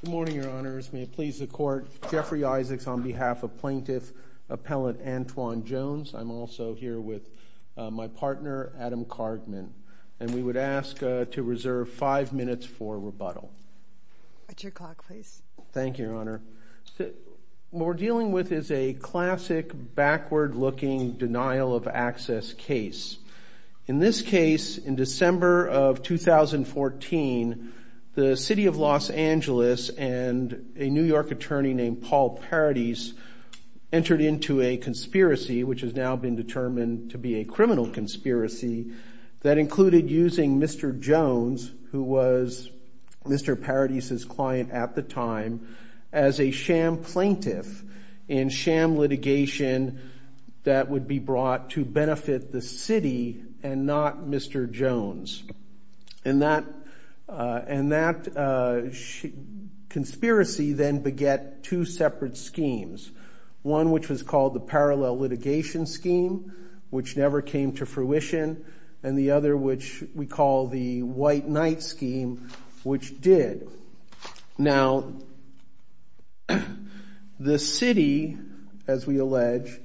Good morning, Your Honors. May it please the Court, Jeffrey Isaacs on behalf of Plaintiff Appellant Antwon Jones. I'm also here with my partner, Adam Cardman, and we would ask to reserve five minutes for rebuttal. At your clock, please. Thank you, Your Honor. What we're dealing with is a classic backward-looking denial of access case. In this case, in December of 2014, the City of Los Angeles and a New York attorney named Paul Paradis entered into a conspiracy, which has now been determined to be a criminal conspiracy, that included using Mr. Jones, who was Mr. Paradis' client at the time, as a sham plaintiff in sham litigation that would be brought to benefit the city and not Mr. Jones. And that conspiracy then beget two separate schemes, one which was called the Parallel Litigation Scheme, which never came to fruition, and the other, which we call the White Knight Scheme, which did. Now, the city, as we allege,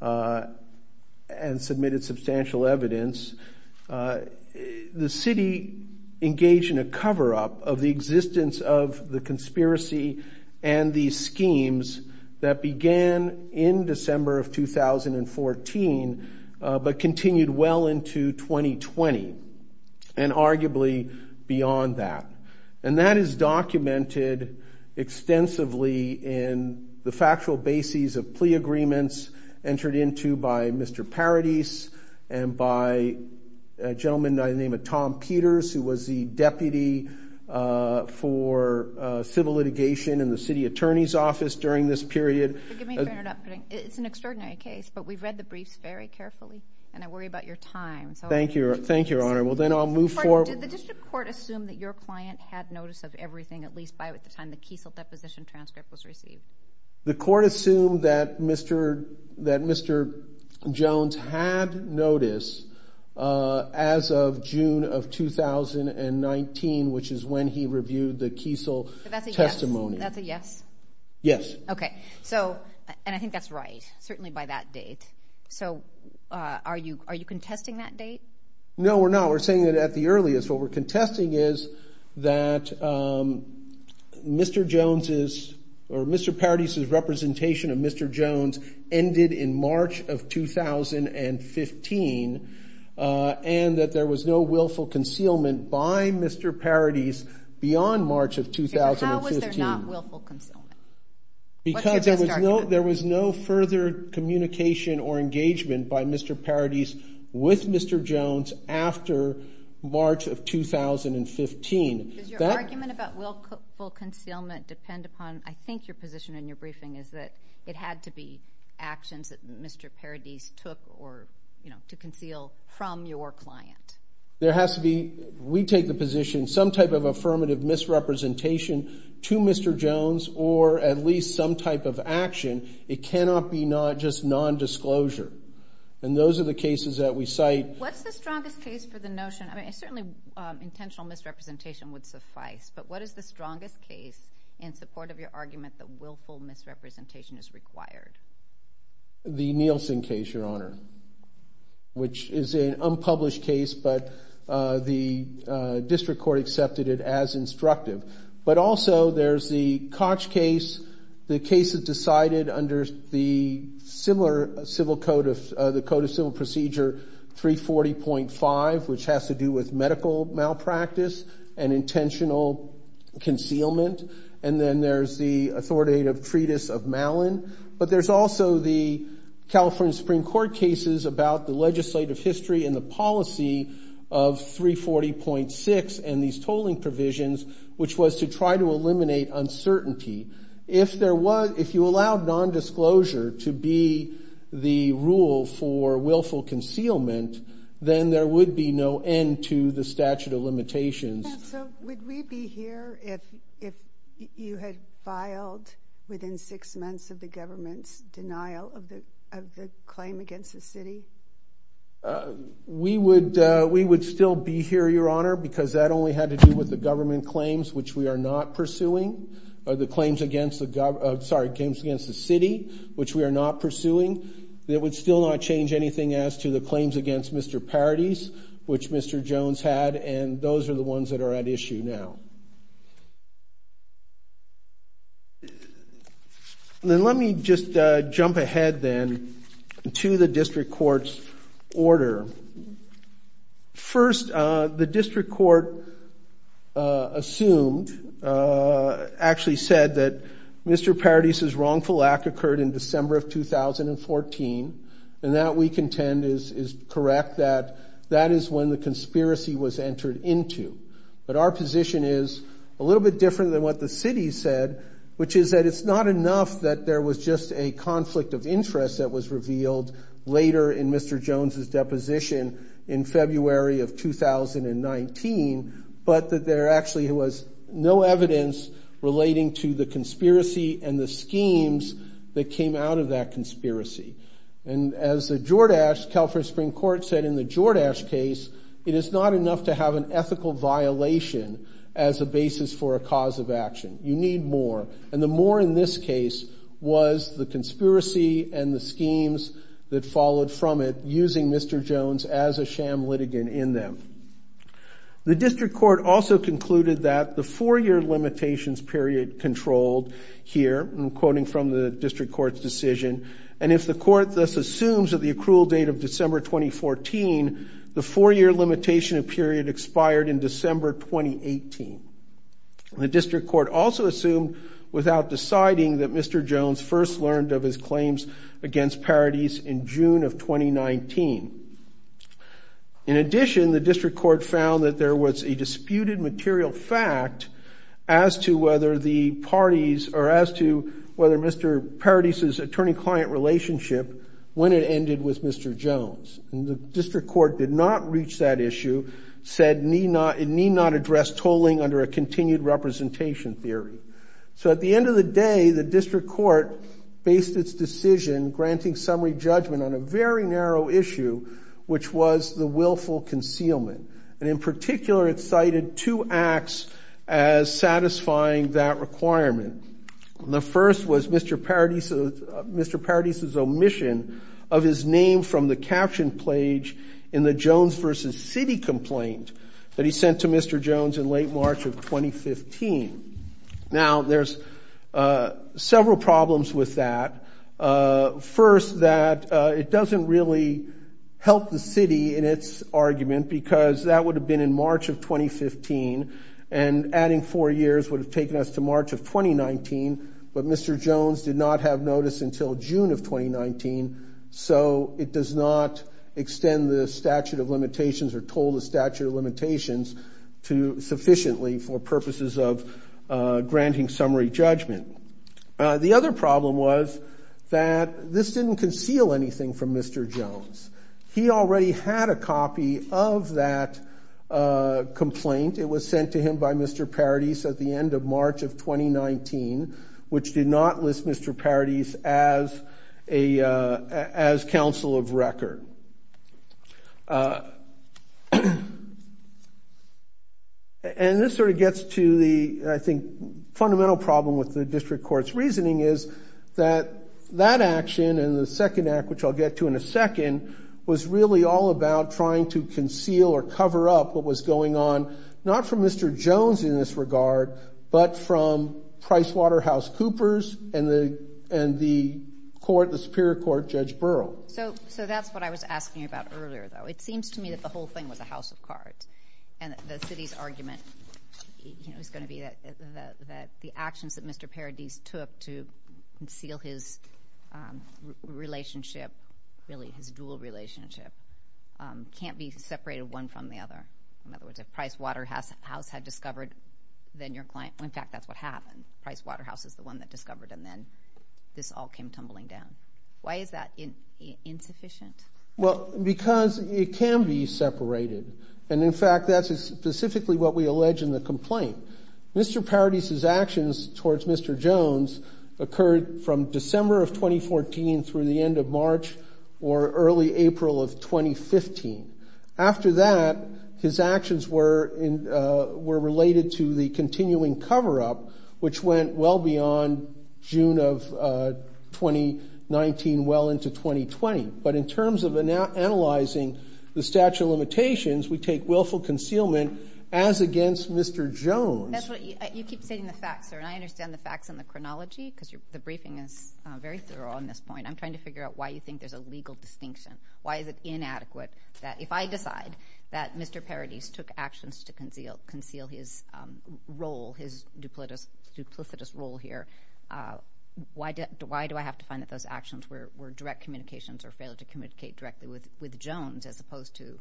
and submitted substantial evidence, the city engaged in a cover-up of the existence of the conspiracy and these schemes that began in December of 2014. This is documented extensively in the factual bases of plea agreements entered into by Mr. Paradis and by a gentleman by the name of Tom Peters, who was the deputy for civil litigation in the city attorney's office during this period. Forgive me for interrupting. It's an extraordinary case, but we've read the briefs very carefully and I worry about your time. Thank you, Your Honor. Well, then I'll move forward. Did the district court assume that your client had notice of everything, at least by the time the Kiesel deposition transcript was received? The court assumed that Mr. Jones had notice as of June of 2019, which is when he reviewed the Kiesel testimony. That's a yes? Yes. Okay. So, and I think that's right, certainly by that date. So, are you contesting that date? No, we're not. We're contesting is that Mr. Jones' or Mr. Paradis' representation of Mr. Jones ended in March of 2015 and that there was no willful concealment by Mr. Paradis beyond March of 2015. How was there not willful concealment? Because there was no further communication or engagement by Mr. Paradis with Mr. Jones after March of 2015. Does your argument about willful concealment depend upon, I think your position in your briefing is that it had to be actions that Mr. Paradis took or, you know, to conceal from your client? There has to be, we take the position some type of affirmative misrepresentation to Mr. Jones or at least some type of action. It cannot be not just non-disclosure. And those are the cases that we cite. What's the strongest case for the notion, I mean, certainly intentional misrepresentation would suffice, but what is the strongest case in support of your argument that willful misrepresentation is required? The Nielsen case, Your Honor, which is an unpublished case, but the district court accepted it as instructive. But also there's the Koch case, the case is decided under the similar civil code of, the code of civil procedure 340.5, which has to do with medical malpractice and intentional concealment. And then there's the authoritative treatise of Mallin. But there's also the California Supreme Court cases about the legislative history and the policy of 340.6 and these tolling provisions, which was to try to eliminate uncertainty. If there was, if you allow non-disclosure to be the rule for willful concealment, then there would be no end to the statute of limitations. So would we be here if you had filed within six months of the government's denial of the claim against the city? We would, we would still be here, Your Honor, because that only had to do with the government claims, which we are not pursuing, or the claims against the, sorry, claims against the city, which we are not pursuing. It would still not change anything as to the claims against Mr. Paradis, which Mr. Jones had, and those are the ones that are at issue now. And then let me just jump ahead then to the district court's order. First, the district court assumed, actually said that Mr. Paradis's wrongful act occurred in December of 2014, and that we contend is correct, that that is when the conspiracy was entered into. But our position is a little bit different than what the city said, which is that it's not enough that there was just a conflict of interest that was revealed later in Mr. Jones's deposition in February of 2019, but that there actually was no evidence relating to the conspiracy and the schemes that came out of that conspiracy. And as the Jordache, California Supreme Court said in the Jordache case, it is not enough to have an ethical violation as a basis for a cause of action. You need more, and the more in this case was the conspiracy and the schemes that followed from it, using Mr. Jones as a sham litigant in them. The district court also concluded that the four-year limitations period controlled here, I'm quoting from the district court's decision, and if the court thus assumes that the accrual date of December 2014, the four-year limitation period expired in December 2018. The district court also assumed without deciding that Mr. Jones first learned of his claims against Paradis in June of 2019. In addition, the district court found that there was a disputed material fact as to whether the parties, or as to whether Mr. Paradis's attorney-client relationship, when it ended with Mr. Jones. And the district court did not reach that issue, said it need not address tolling under a continued representation theory. So at the end of the day, the district court based its decision granting summary judgment on a very narrow issue, which was the willful concealment. And in particular, it cited two acts as satisfying that requirement. The first was Mr. Paradis, Mr. Paradis's omission of his name from the caption page in the Jones versus city complaint that he Now there's several problems with that. First, that it doesn't really help the city in its argument, because that would have been in March of 2015, and adding four years would have taken us to March of 2019. But Mr. Jones did not have notice until June of 2019, so it does not extend the statute of limitations or toll the statute of limitations to sufficiently for purposes of granting summary judgment. The other problem was that this didn't conceal anything from Mr. Jones. He already had a copy of that complaint. It was sent to him by Mr. Paradis at the end of March of 2019, which did list Mr. Paradis as counsel of record. And this sort of gets to the, I think, fundamental problem with the district court's reasoning is that that action and the second act, which I'll get to in a second, was really all about trying to conceal or cover up what was going on, not from Mr. Jones in this regard, but from PricewaterhouseCoopers and the court, the Superior Court Judge Burrell. So that's what I was asking you about earlier, though. It seems to me that the whole thing was a house of cards, and the city's argument is going to be that the actions that Mr. Paradis took to conceal his relationship, really his dual relationship, can't be separated one from the other. In other words, if Pricewaterhouse had discovered, then your client, in fact, that's what happened. Pricewaterhouse is the one that discovered, and then this all came tumbling down. Why is that insufficient? Well, because it can be separated. And in fact, that's specifically what we allege in the complaint. Mr. Paradis's actions towards Mr. Jones occurred from December of 2014 through the his actions were related to the continuing cover-up, which went well beyond June of 2019, well into 2020. But in terms of analyzing the statute of limitations, we take willful concealment as against Mr. Jones. That's what you keep saying, the facts, sir, and I understand the facts and the chronology, because the briefing is very thorough on this point. I'm trying to figure out why you think there's a legal distinction. Why is it inadequate that if I decide that Mr. Paradis took actions to conceal his role, his duplicitous role here, why do I have to find that those actions were direct communications or failed to communicate directly with Jones as opposed to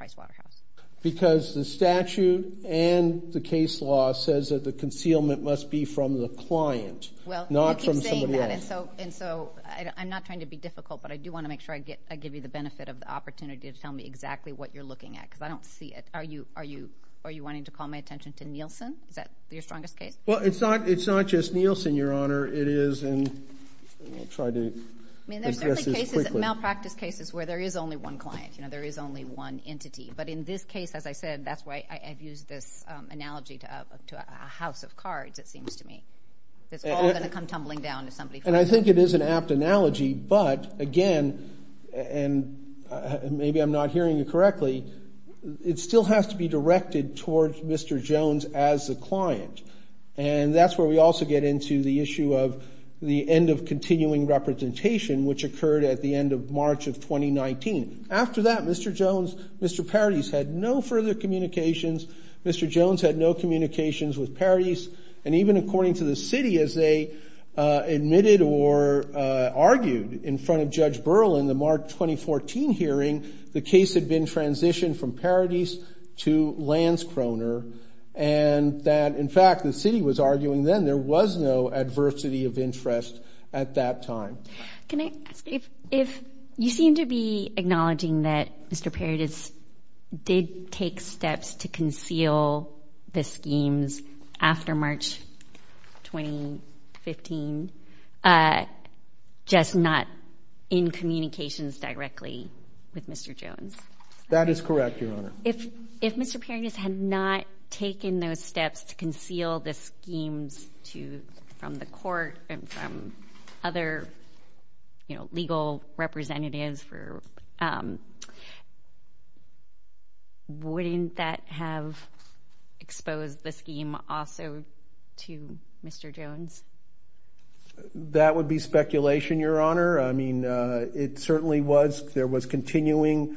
Pricewaterhouse? Because the statute and the case law says that the concealment must be from the client, not from somebody else. And so I'm not trying to be difficult, but I do want to make sure I give you the benefit of the opportunity to tell me exactly what you're looking at, because I don't see it. Are you wanting to call my attention to Nielsen? Is that your strongest case? Well, it's not just Nielsen, Your Honor. It is, and I'll try to address this quickly. I mean, there's certainly cases, malpractice cases, where there is only one client, you know, there is only one entity. But in this case, as I said, that's why I've used this analogy to a house of cards, it And I think it is an apt analogy, but again, and maybe I'm not hearing you correctly, it still has to be directed towards Mr. Jones as the client. And that's where we also get into the issue of the end of continuing representation, which occurred at the end of March of 2019. After that, Mr. Jones, Mr. Parris had no further communications. Mr. Jones had no communications with Parris. And even according to the city, as they admitted or argued in front of Judge Berlin, the March 2014 hearing, the case had been transitioned from Parris to Lanskroner. And that in fact, the city was arguing then there was no adversity of interest at that time. Can I ask if you seem to be acknowledging that Mr. Parris did take steps to conceal the schemes after March 2015, just not in communications directly with Mr. Jones? That is correct, Your Honor. If Mr. Parris had not taken those steps to conceal the schemes from the court and from other legal representatives, wouldn't that have exposed the scheme also to Mr. Jones? That would be speculation, Your Honor. I mean, it certainly was, there was continuing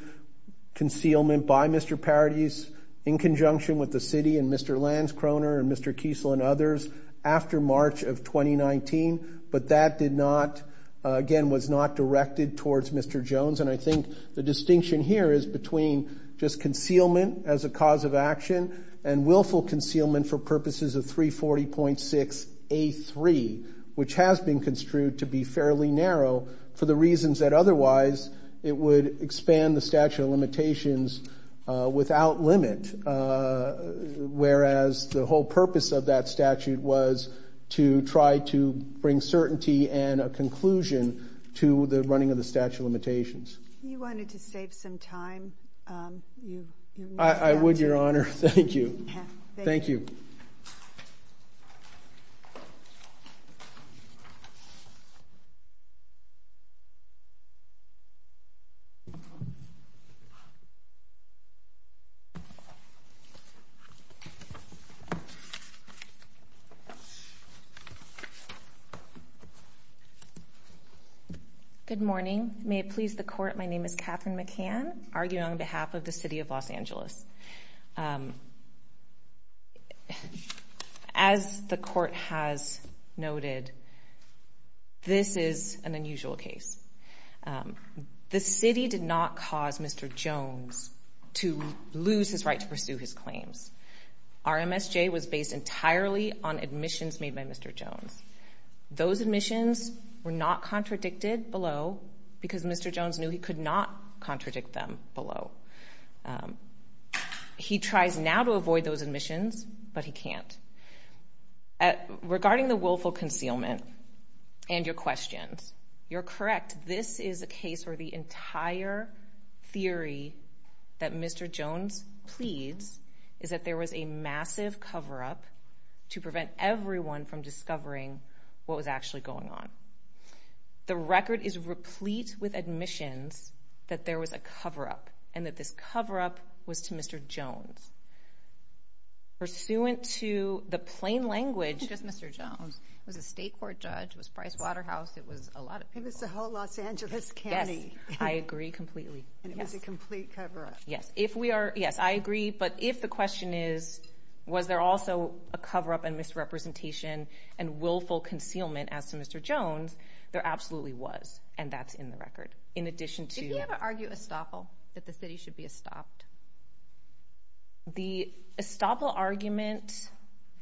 concealment by Mr. Parris in conjunction with the city and Mr. Lanskroner and Mr. Kiesel and others after March of 2019. But that did not, again, was not directed towards Mr. Jones. And I think the distinction here is between just concealment as a cause of action and willful concealment for purposes of 340.6A3, which has been construed to be fairly narrow for the reasons that otherwise it would expand the statute of limitations without limit, whereas the whole purpose of that statute was to try to bring certainty and a conclusion to the running of the statute of limitations. You wanted to save some time. I would, Your Honor. Thank you. Thank you. Good morning. May it please the court, my name is Katherine McCann, arguing on behalf of the City of Los Angeles. As the court has noted, this is an unusual case. The city did not cause Mr. Jones to lose his right to pursue his claims. Our MSJ was based entirely on admissions made by Mr. Jones. Those admissions were not contradicted below because Mr. Jones knew he could not contradict them below. He tries now to avoid those admissions, but he can't. Regarding the willful concealment and your questions, you're correct. This is a case where the entire theory that Mr. Jones pleads is that there was a massive cover-up to prevent everyone from discovering what was actually going on. The record is replete with admissions that there was a cover-up and that this cover-up was to Mr. Jones. Pursuant to the plain language, it was a judge, it was Price Waterhouse, it was a lot of people. It was the whole Los Angeles County. I agree completely. It was a complete cover-up. Yes, I agree, but if the question is, was there also a cover-up and misrepresentation and willful concealment as to Mr. Jones, there absolutely was, and that's in the record. In addition to... Did he ever argue estoppel, that the city should be estopped? The estoppel argument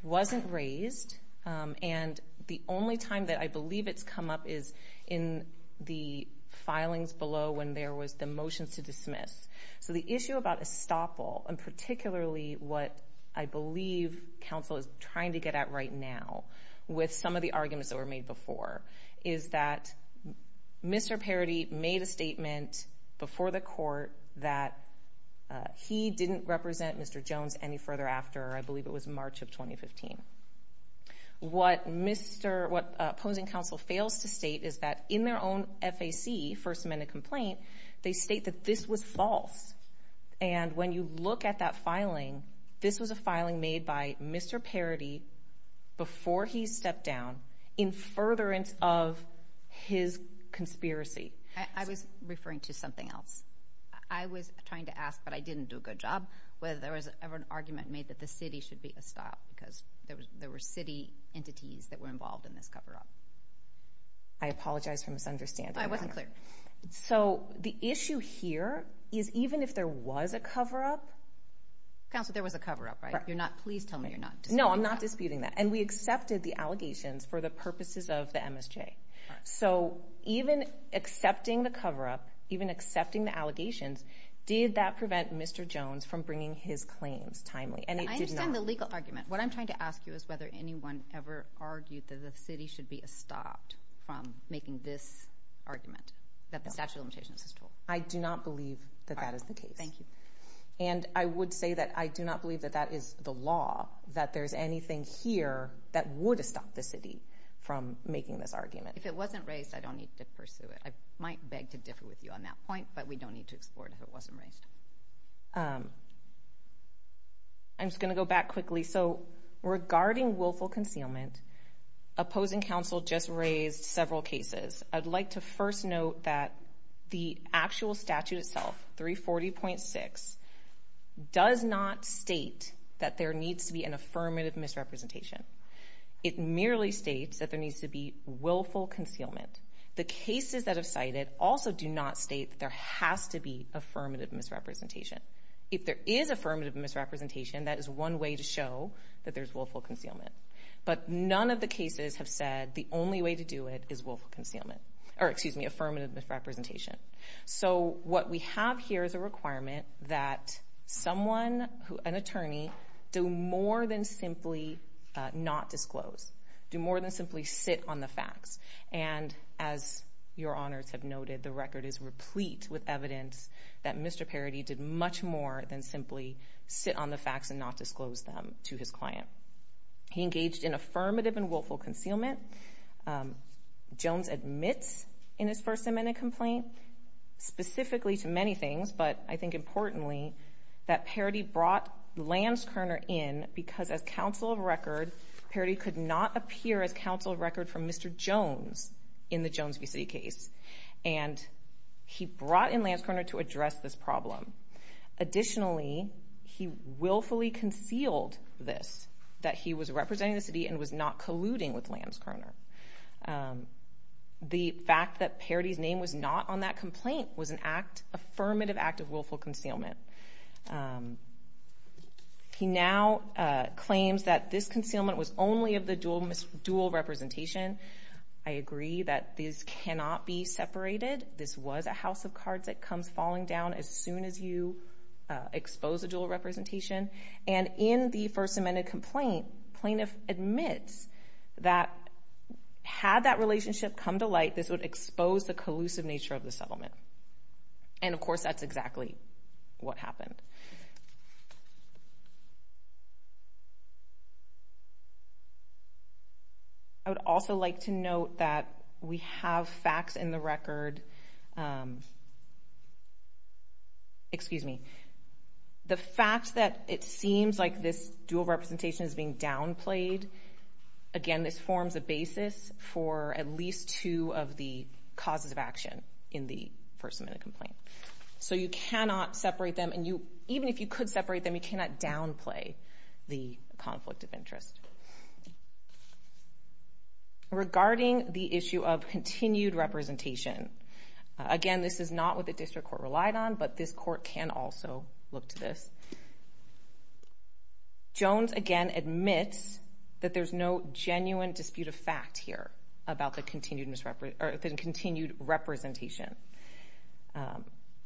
wasn't raised, and the only time that I believe it's come up is in the filings below when there was the motions to dismiss. So the issue about estoppel, and particularly what I believe counsel is trying to get at right now with some of the arguments that were made before, is that Mr. Parity made a statement before the court that he didn't represent Mr. Jones any further after, I believe it was March of 2015. What opposing counsel fails to state is that in their own FAC, First Amendment Complaint, they state that this was false, and when you look at that filing, this was a filing made by Mr. Parity before he stepped down in furtherance of his conspiracy. I was referring to something else. I was trying to ask, but I didn't do a good job, whether there was ever an argument made that the city should be estopped, because there were city entities that were involved in this cover-up. I apologize for misunderstanding. I wasn't clear. So the issue here is even if there was a cover-up. Counselor, there was a cover-up, right? You're not, please tell me you're not disputing that. No, I'm not disputing that, and we accepted the allegations for the purposes of the MSJ. So even accepting the cover-up, even accepting the allegations, did that prevent Mr. Jones from bringing his claims timely, and it did not. I understand the legal argument. What I'm trying to ask you is whether anyone ever argued that the city should be estopped from making this argument, that the statute of limitations is true. I do not believe that that is the case. Thank you. And I would say that I do not believe that that is the law, that there's anything here that would estop the city from making this argument. If it wasn't raised, I don't need to pursue it. I might beg to differ with you on that point, but we don't need to explore it if it wasn't raised. I'm just going to go back quickly. So regarding willful concealment, opposing counsel just raised several cases. I'd like to first note that the actual statute itself, 340.6, does not state that there needs to be an affirmative misrepresentation. It merely states that there needs to be willful concealment. The cases that have cited also do not state that there has to be affirmative misrepresentation. If there is affirmative misrepresentation, that is one way to show that there's willful concealment. But none of the cases have said the only way to do it is affirmative misrepresentation. So what we have here is a requirement that someone, an attorney, do more than simply not disclose, do more than simply sit on the facts. And as your honors have noted, the record is sit on the facts and not disclose them to his client. He engaged in affirmative and willful concealment. Jones admits in his First Amendment complaint, specifically to many things, but I think importantly, that Parody brought Lance Kerner in because as counsel of record, Parody could not appear as counsel of record for Mr. Jones in the Jones v. City case. And he brought in Lance Kerner to address this problem. Additionally, he willfully concealed this, that he was representing the city and was not colluding with Lance Kerner. The fact that Parody's name was not on that complaint was an affirmative act of willful concealment. He now claims that this concealment was only of the dual representation. I agree that this cannot be separated. This was a house of agreement falling down as soon as you expose a dual representation. And in the First Amendment complaint, plaintiff admits that had that relationship come to light, this would expose the collusive nature of the settlement. And of course, that's exactly what happened. I would also like to note that we have facts in the record. Excuse me. The fact that it seems like this dual representation is being downplayed, again, this forms a basis for at least two of the causes of action in the First Amendment complaint. So you cannot separate them. And even if you could separate them, you cannot downplay the conflict of interest. Regarding the issue of continued representation, again, this is not what the district court relied on, but this court can also look to this. Jones, again, admits that there's no genuine dispute of fact here about the continued representation.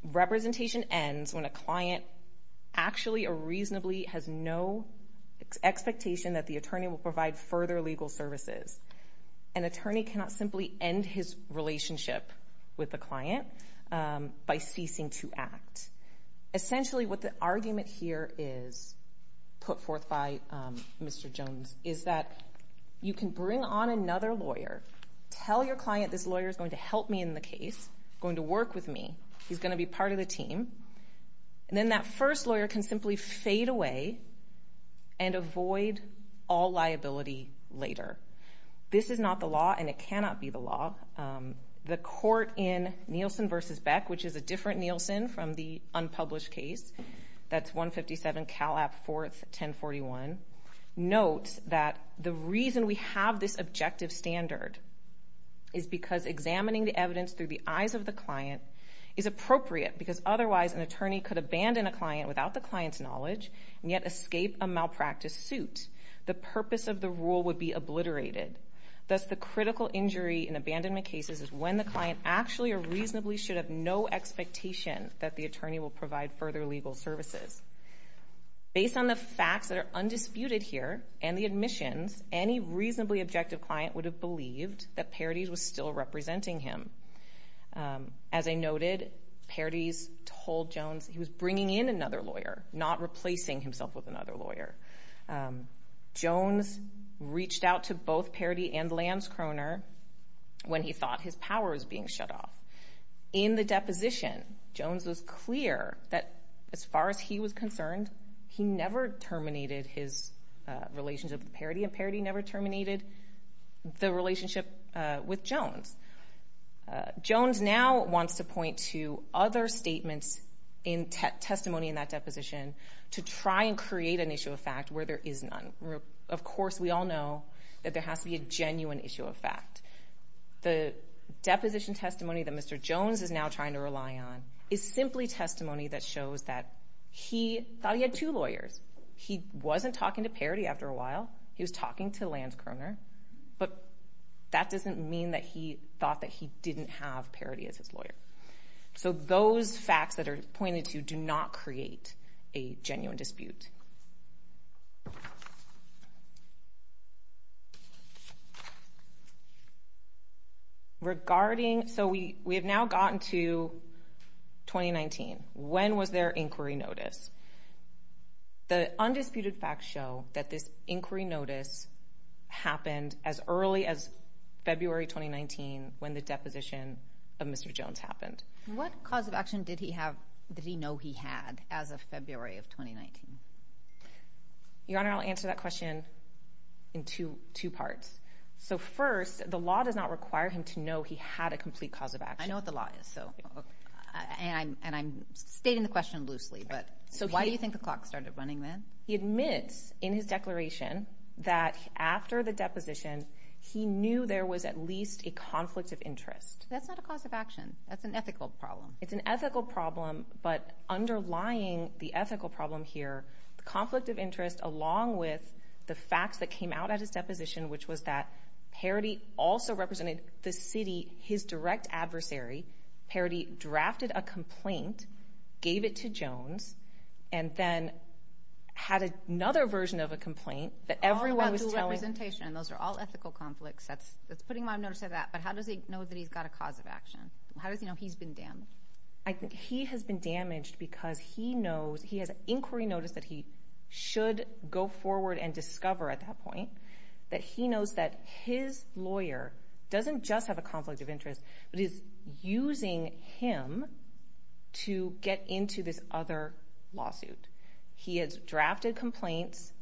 Representation ends when a client actually or reasonably has no expectation that the attorney will provide further legal services. An attorney cannot simply end his relationship with the client by ceasing to act. Essentially, what the argument here is put forth by Mr. Jones is that you can bring on another lawyer, tell your client this lawyer is going to help me in the case, going to work with me, he's going to be part of the team, and then that first lawyer can simply fade away and avoid all liability later. This is not the law and it cannot be the law. The court in Nielsen v. Beck, which is a different Nielsen from the unpublished case, that's 157 Calap 4, 1041, notes that the reason we have this objective standard is because examining the evidence through the eyes of the client is appropriate because otherwise an attorney could abandon a client without the client's knowledge and yet escape a malpractice suit. The purpose of the rule would be obliterated. Thus, the critical injury in abandonment cases is when the client actually or reasonably should have no expectation that the attorney will provide further legal services. Based on the facts that are undisputed here and the admissions, any reasonably objective client would have believed that Paradis was still representing him. As I noted, Paradis told Jones he was bringing in another lawyer, not replacing himself with another lawyer. Jones reached out to both Paradis and Lance Croner when he thought his power was being shut off. In the deposition, Jones was clear that, as far as he was concerned, he never terminated his relationship with Paradis and Paradis never terminated the relationship with Jones. Jones now wants to point to other statements in testimony in that deposition to try and create an issue of fact where there is none. Of course, we all know that there has to be a genuine issue of fact. The deposition testimony that Mr. Jones is now trying to rely on is simply testimony that shows that he thought he had two lawyers. He wasn't talking to Paradis after a while. He was talking to Lance Croner, but that doesn't mean that he thought that he didn't have Paradis as his lawyer. Those facts that are pointed to do not create a genuine dispute. We have now gotten to 2019. When was their inquiry notice? The undisputed facts show that this inquiry notice happened as early as February 2019 when the deposition of Mr. Jones happened. What cause of action did he know he had as of February 2019? Your Honor, I'll answer that question in two parts. First, the law does not require him to know he had a complete cause of action. I know what the law is. I'm stating the question loosely, but why do you think the clock started running then? He admits in his declaration that after the That's not a cause of action. That's an ethical problem. It's an ethical problem, but underlying the ethical problem here, the conflict of interest along with the facts that came out at his deposition, which was that Paradis also represented the city, his direct adversary. Paradis drafted a complaint, gave it to Jones, and then had another version of a complaint that everyone was telling— All about dual representation. Those are all ethical conflicts. That's putting him on notice of that, but how does he know that he's got a cause of action? How does he know he's been damaged? I think he has been damaged because he knows—he has an inquiry notice that he should go forward and discover at that point that he knows that his lawyer doesn't just have a conflict of interest, but is using him to get into this other lawsuit. He has drafted complaints,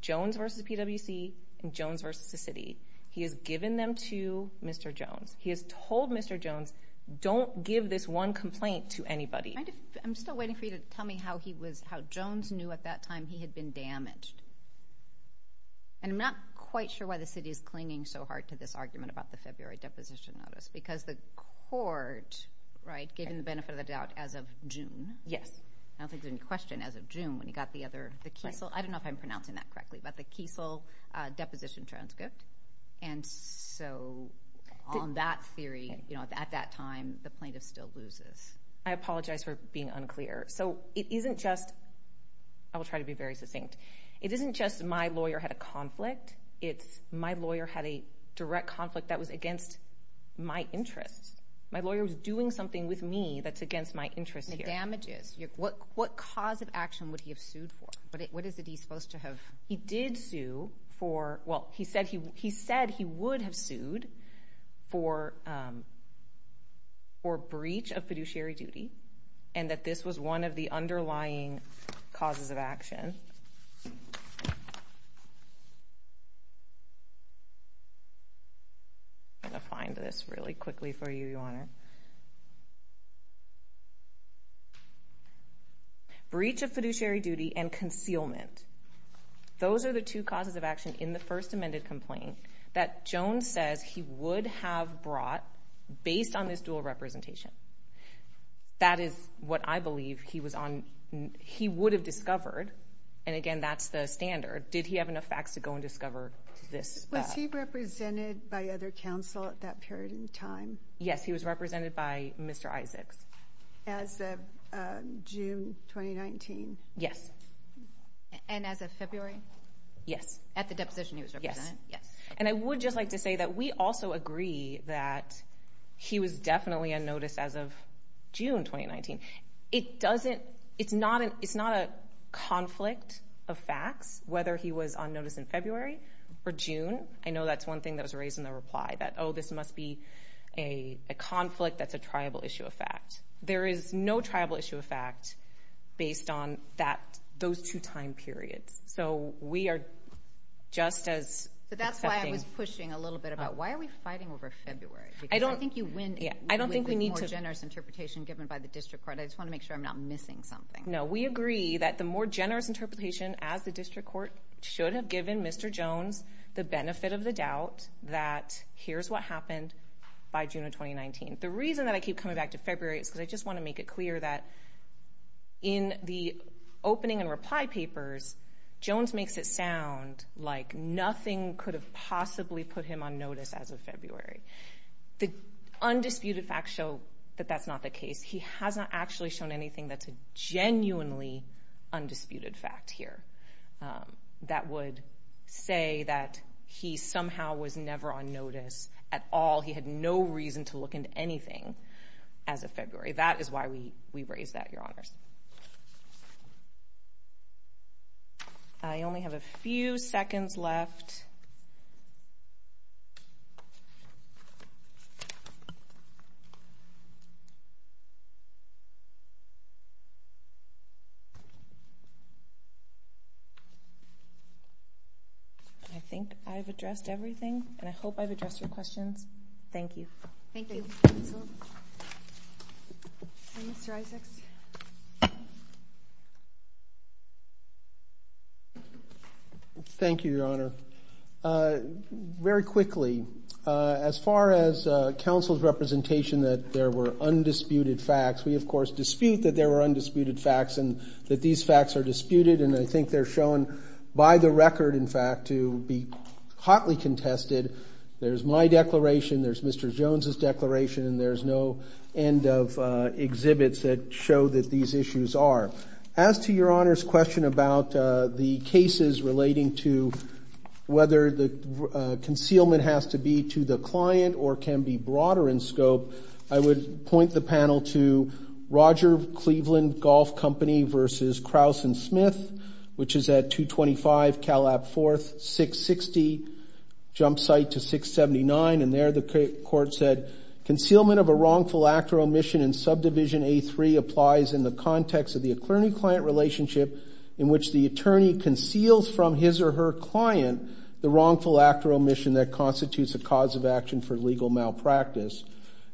Jones v. PwC and Jones v. the city. He has given them to Mr. Jones. He has told Mr. Jones, don't give this one complaint to anybody. I'm still waiting for you to tell me how he was—how Jones knew at that time he had been damaged, and I'm not quite sure why the city is clinging so hard to this argument about the February deposition notice because the court, right, gave him the benefit of the doubt as of June. Yes. I don't think there's any question as of June when the Kiesel—I don't know if I'm pronouncing that correctly, but the Kiesel deposition transcript, and so on that theory, you know, at that time, the plaintiff still loses. I apologize for being unclear. So it isn't just—I will try to be very succinct. It isn't just my lawyer had a conflict. It's my lawyer had a direct conflict that was against my interests. My lawyer was doing something with me that's against my interests here. What cause of action would he have sued for? What is it he's supposed to have— He did sue for—well, he said he would have sued for breach of fiduciary duty and that this was one of the underlying causes of action. I'm going to find this really quickly for you, Your Honor. Breach of fiduciary duty and concealment. Those are the two causes of action in the first amended complaint that Jones says he would have brought based on this dual representation. That is what I believe he was on—he would have discovered, and again, that's the standard. Did he have enough facts to go and discover this? Was he represented by other counsel at that period of time? Yes, he was represented by Mr. Isaacs. As of June 2019? Yes. And as of February? Yes. At the deposition he was represented? Yes. I would just like to say that we also agree that he was definitely on notice as of June 2019. It's not a conflict of facts whether he was on notice in February or June. I know that's one thing that was raised in the reply that, oh, this must be a conflict that's a there is no tribal issue of fact based on that, those two time periods. So we are just as— But that's why I was pushing a little bit about why are we fighting over February? I don't think you win with more generous interpretation given by the district court. I just want to make sure I'm not missing something. No, we agree that the more generous interpretation as the district court should have given Mr. Jones the benefit of the doubt that here's what happened by June 2019. The reason that I keep coming back to February is because I just want to make it clear that in the opening and reply papers, Jones makes it sound like nothing could have possibly put him on notice as of February. The undisputed facts show that that's not the case. He hasn't actually shown anything that's a genuinely undisputed fact here that would say that he somehow was never on notice at all. He had no reason to look into anything as of February. That is why we raised that, Your Honors. I only have a few seconds left. I think I've addressed everything, and I hope I've addressed your questions. Thank you. Thank you, counsel. Mr. Isaacs? Thank you, Your Honor. Very quickly, as far as counsel's representation that there were undisputed facts, we of course dispute that there were undisputed facts and that these facts are disputed, and I think they're shown by the record, in fact, to be hotly contested. There's my declaration, there's Mr. Jones's declaration, and there's no end of exhibits that show that these issues are. As to Your Honor's question about the cases relating to whether the concealment has to be to the client or can be broader in scope, I would point the panel to Roger Cleveland Golf Company versus Kraus and Smith, which is at 225 Calab 4th, 660, jump site to 679, and there the court said, concealment of a wrongful act or omission in subdivision A3 applies in the context of the attorney-client relationship in which the attorney conceals from his or her client the wrongful act or omission that constitutes a cause of action for legal malpractice.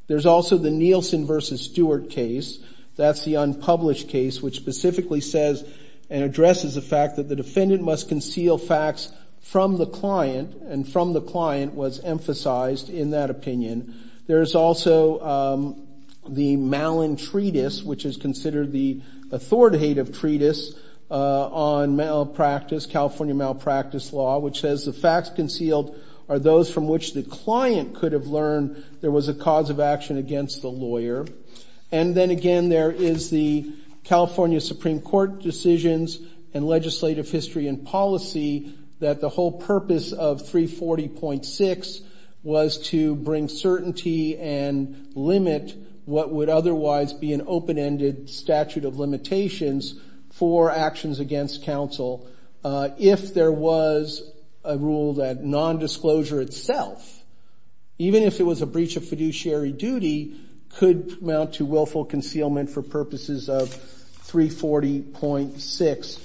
There's also the Nielsen versus Stewart case, that's the unpublished case which specifically says and addresses the fact that the defendant must conceal facts from the which is considered the authoritative treatise on malpractice, California malpractice law, which says the facts concealed are those from which the client could have learned there was a cause of action against the lawyer. And then again, there is the California Supreme Court decisions and legislative history and policy that the whole purpose of 340.6 was to bring certainty and limit what would otherwise be an open-ended statute of limitations for actions against counsel if there was a rule that non-disclosure itself, even if it was a breach of fiduciary duty, could amount to willful concealment for purposes of 340.6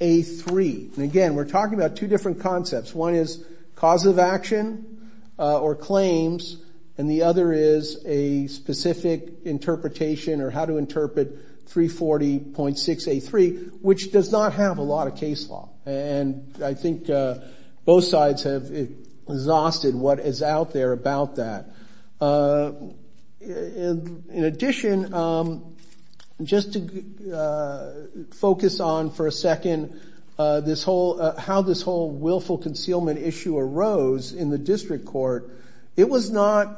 A3. And again, we're talking about two different concepts. One is cause of action or claims and the other is a specific interpretation or how to interpret 340.6 A3, which does not have a lot of case law. And I think both sides have exhausted what is out there about that. In addition, just to focus on for a minute how this whole willful concealment issue arose in the district court, it was not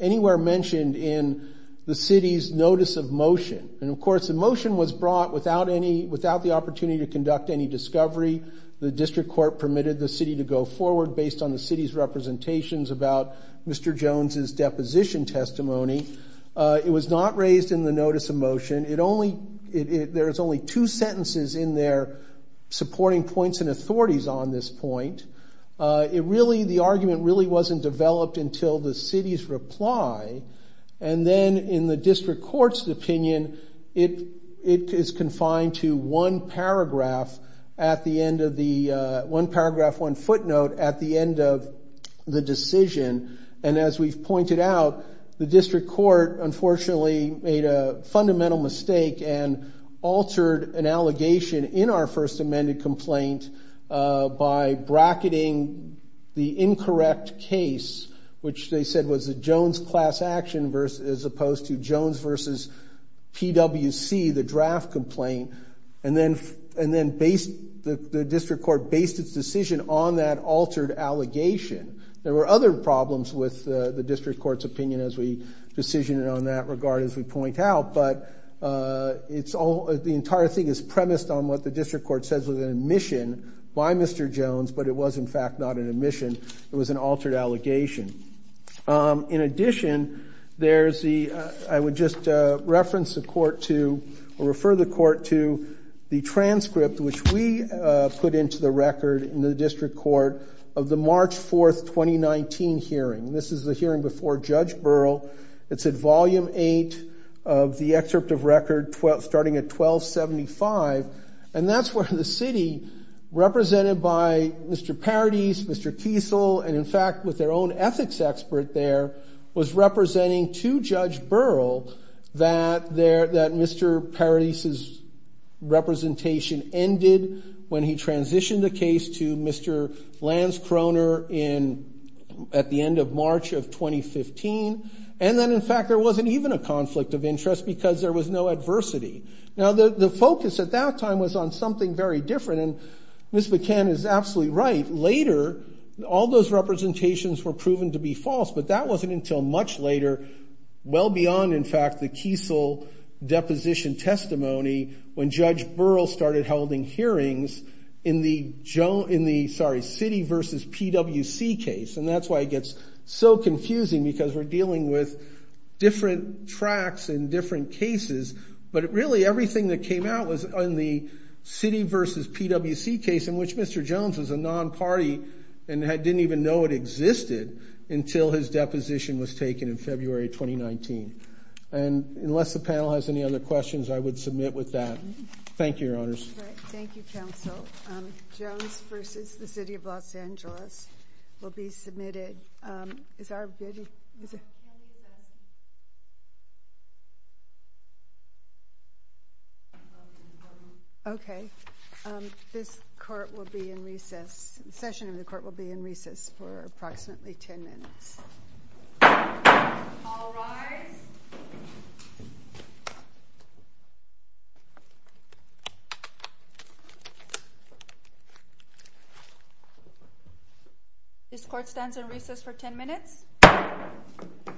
anywhere mentioned in the city's notice of motion. And of course, the motion was brought without the opportunity to conduct any discovery. The district court permitted the city to go forward based on the city's representations about Mr. Jones's deposition testimony. It was not raised in the supporting points and authorities on this point. The argument really wasn't developed until the city's reply. And then in the district court's opinion, it is confined to one paragraph, one footnote at the end of the decision. And as we've pointed out, the district court unfortunately made fundamental mistake and altered an allegation in our first amended complaint by bracketing the incorrect case, which they said was a Jones class action as opposed to Jones versus PWC, the draft complaint. And then the district court based its decision on that altered allegation. There were other problems with the district court's opinion as we decision it on that regard as we point out, but the entire thing is premised on what the district court says was an admission by Mr. Jones, but it was in fact not an admission. It was an altered allegation. In addition, I would just reference the court to or refer the court to the transcript which we put into the record in the district court of the March 4th, 2019 hearing. This is the hearing before Judge Burrell. It's at volume eight of the excerpt of record starting at 1275. And that's where the city represented by Mr. Paradis, Mr. Kiesel, and in fact with their own ethics expert there, was representing to Judge Burrell that Mr. Paradis's representation ended when he and then in fact there wasn't even a conflict of interest because there was no adversity. Now the focus at that time was on something very different and Ms. Buchanan is absolutely right. Later, all those representations were proven to be false, but that wasn't until much later, well beyond in fact the Kiesel deposition testimony when Judge Burrell started holding hearings in the city versus PWC case. And that's why it gets so confusing because we're dealing with different tracks and different cases, but really everything that came out was on the city versus PWC case in which Mr. Jones was a non-party and didn't even know it existed until his deposition was taken in February, 2019. And unless the panel has any other questions, I would submit with that. Thank you, your honors. Thank you, counsel. Jones versus the city of Los Angeles. Okay, this court will be in recess, session of the court will be in recess for approximately 10 minutes. All rise. This court stands in recess for 10 minutes. Thank you.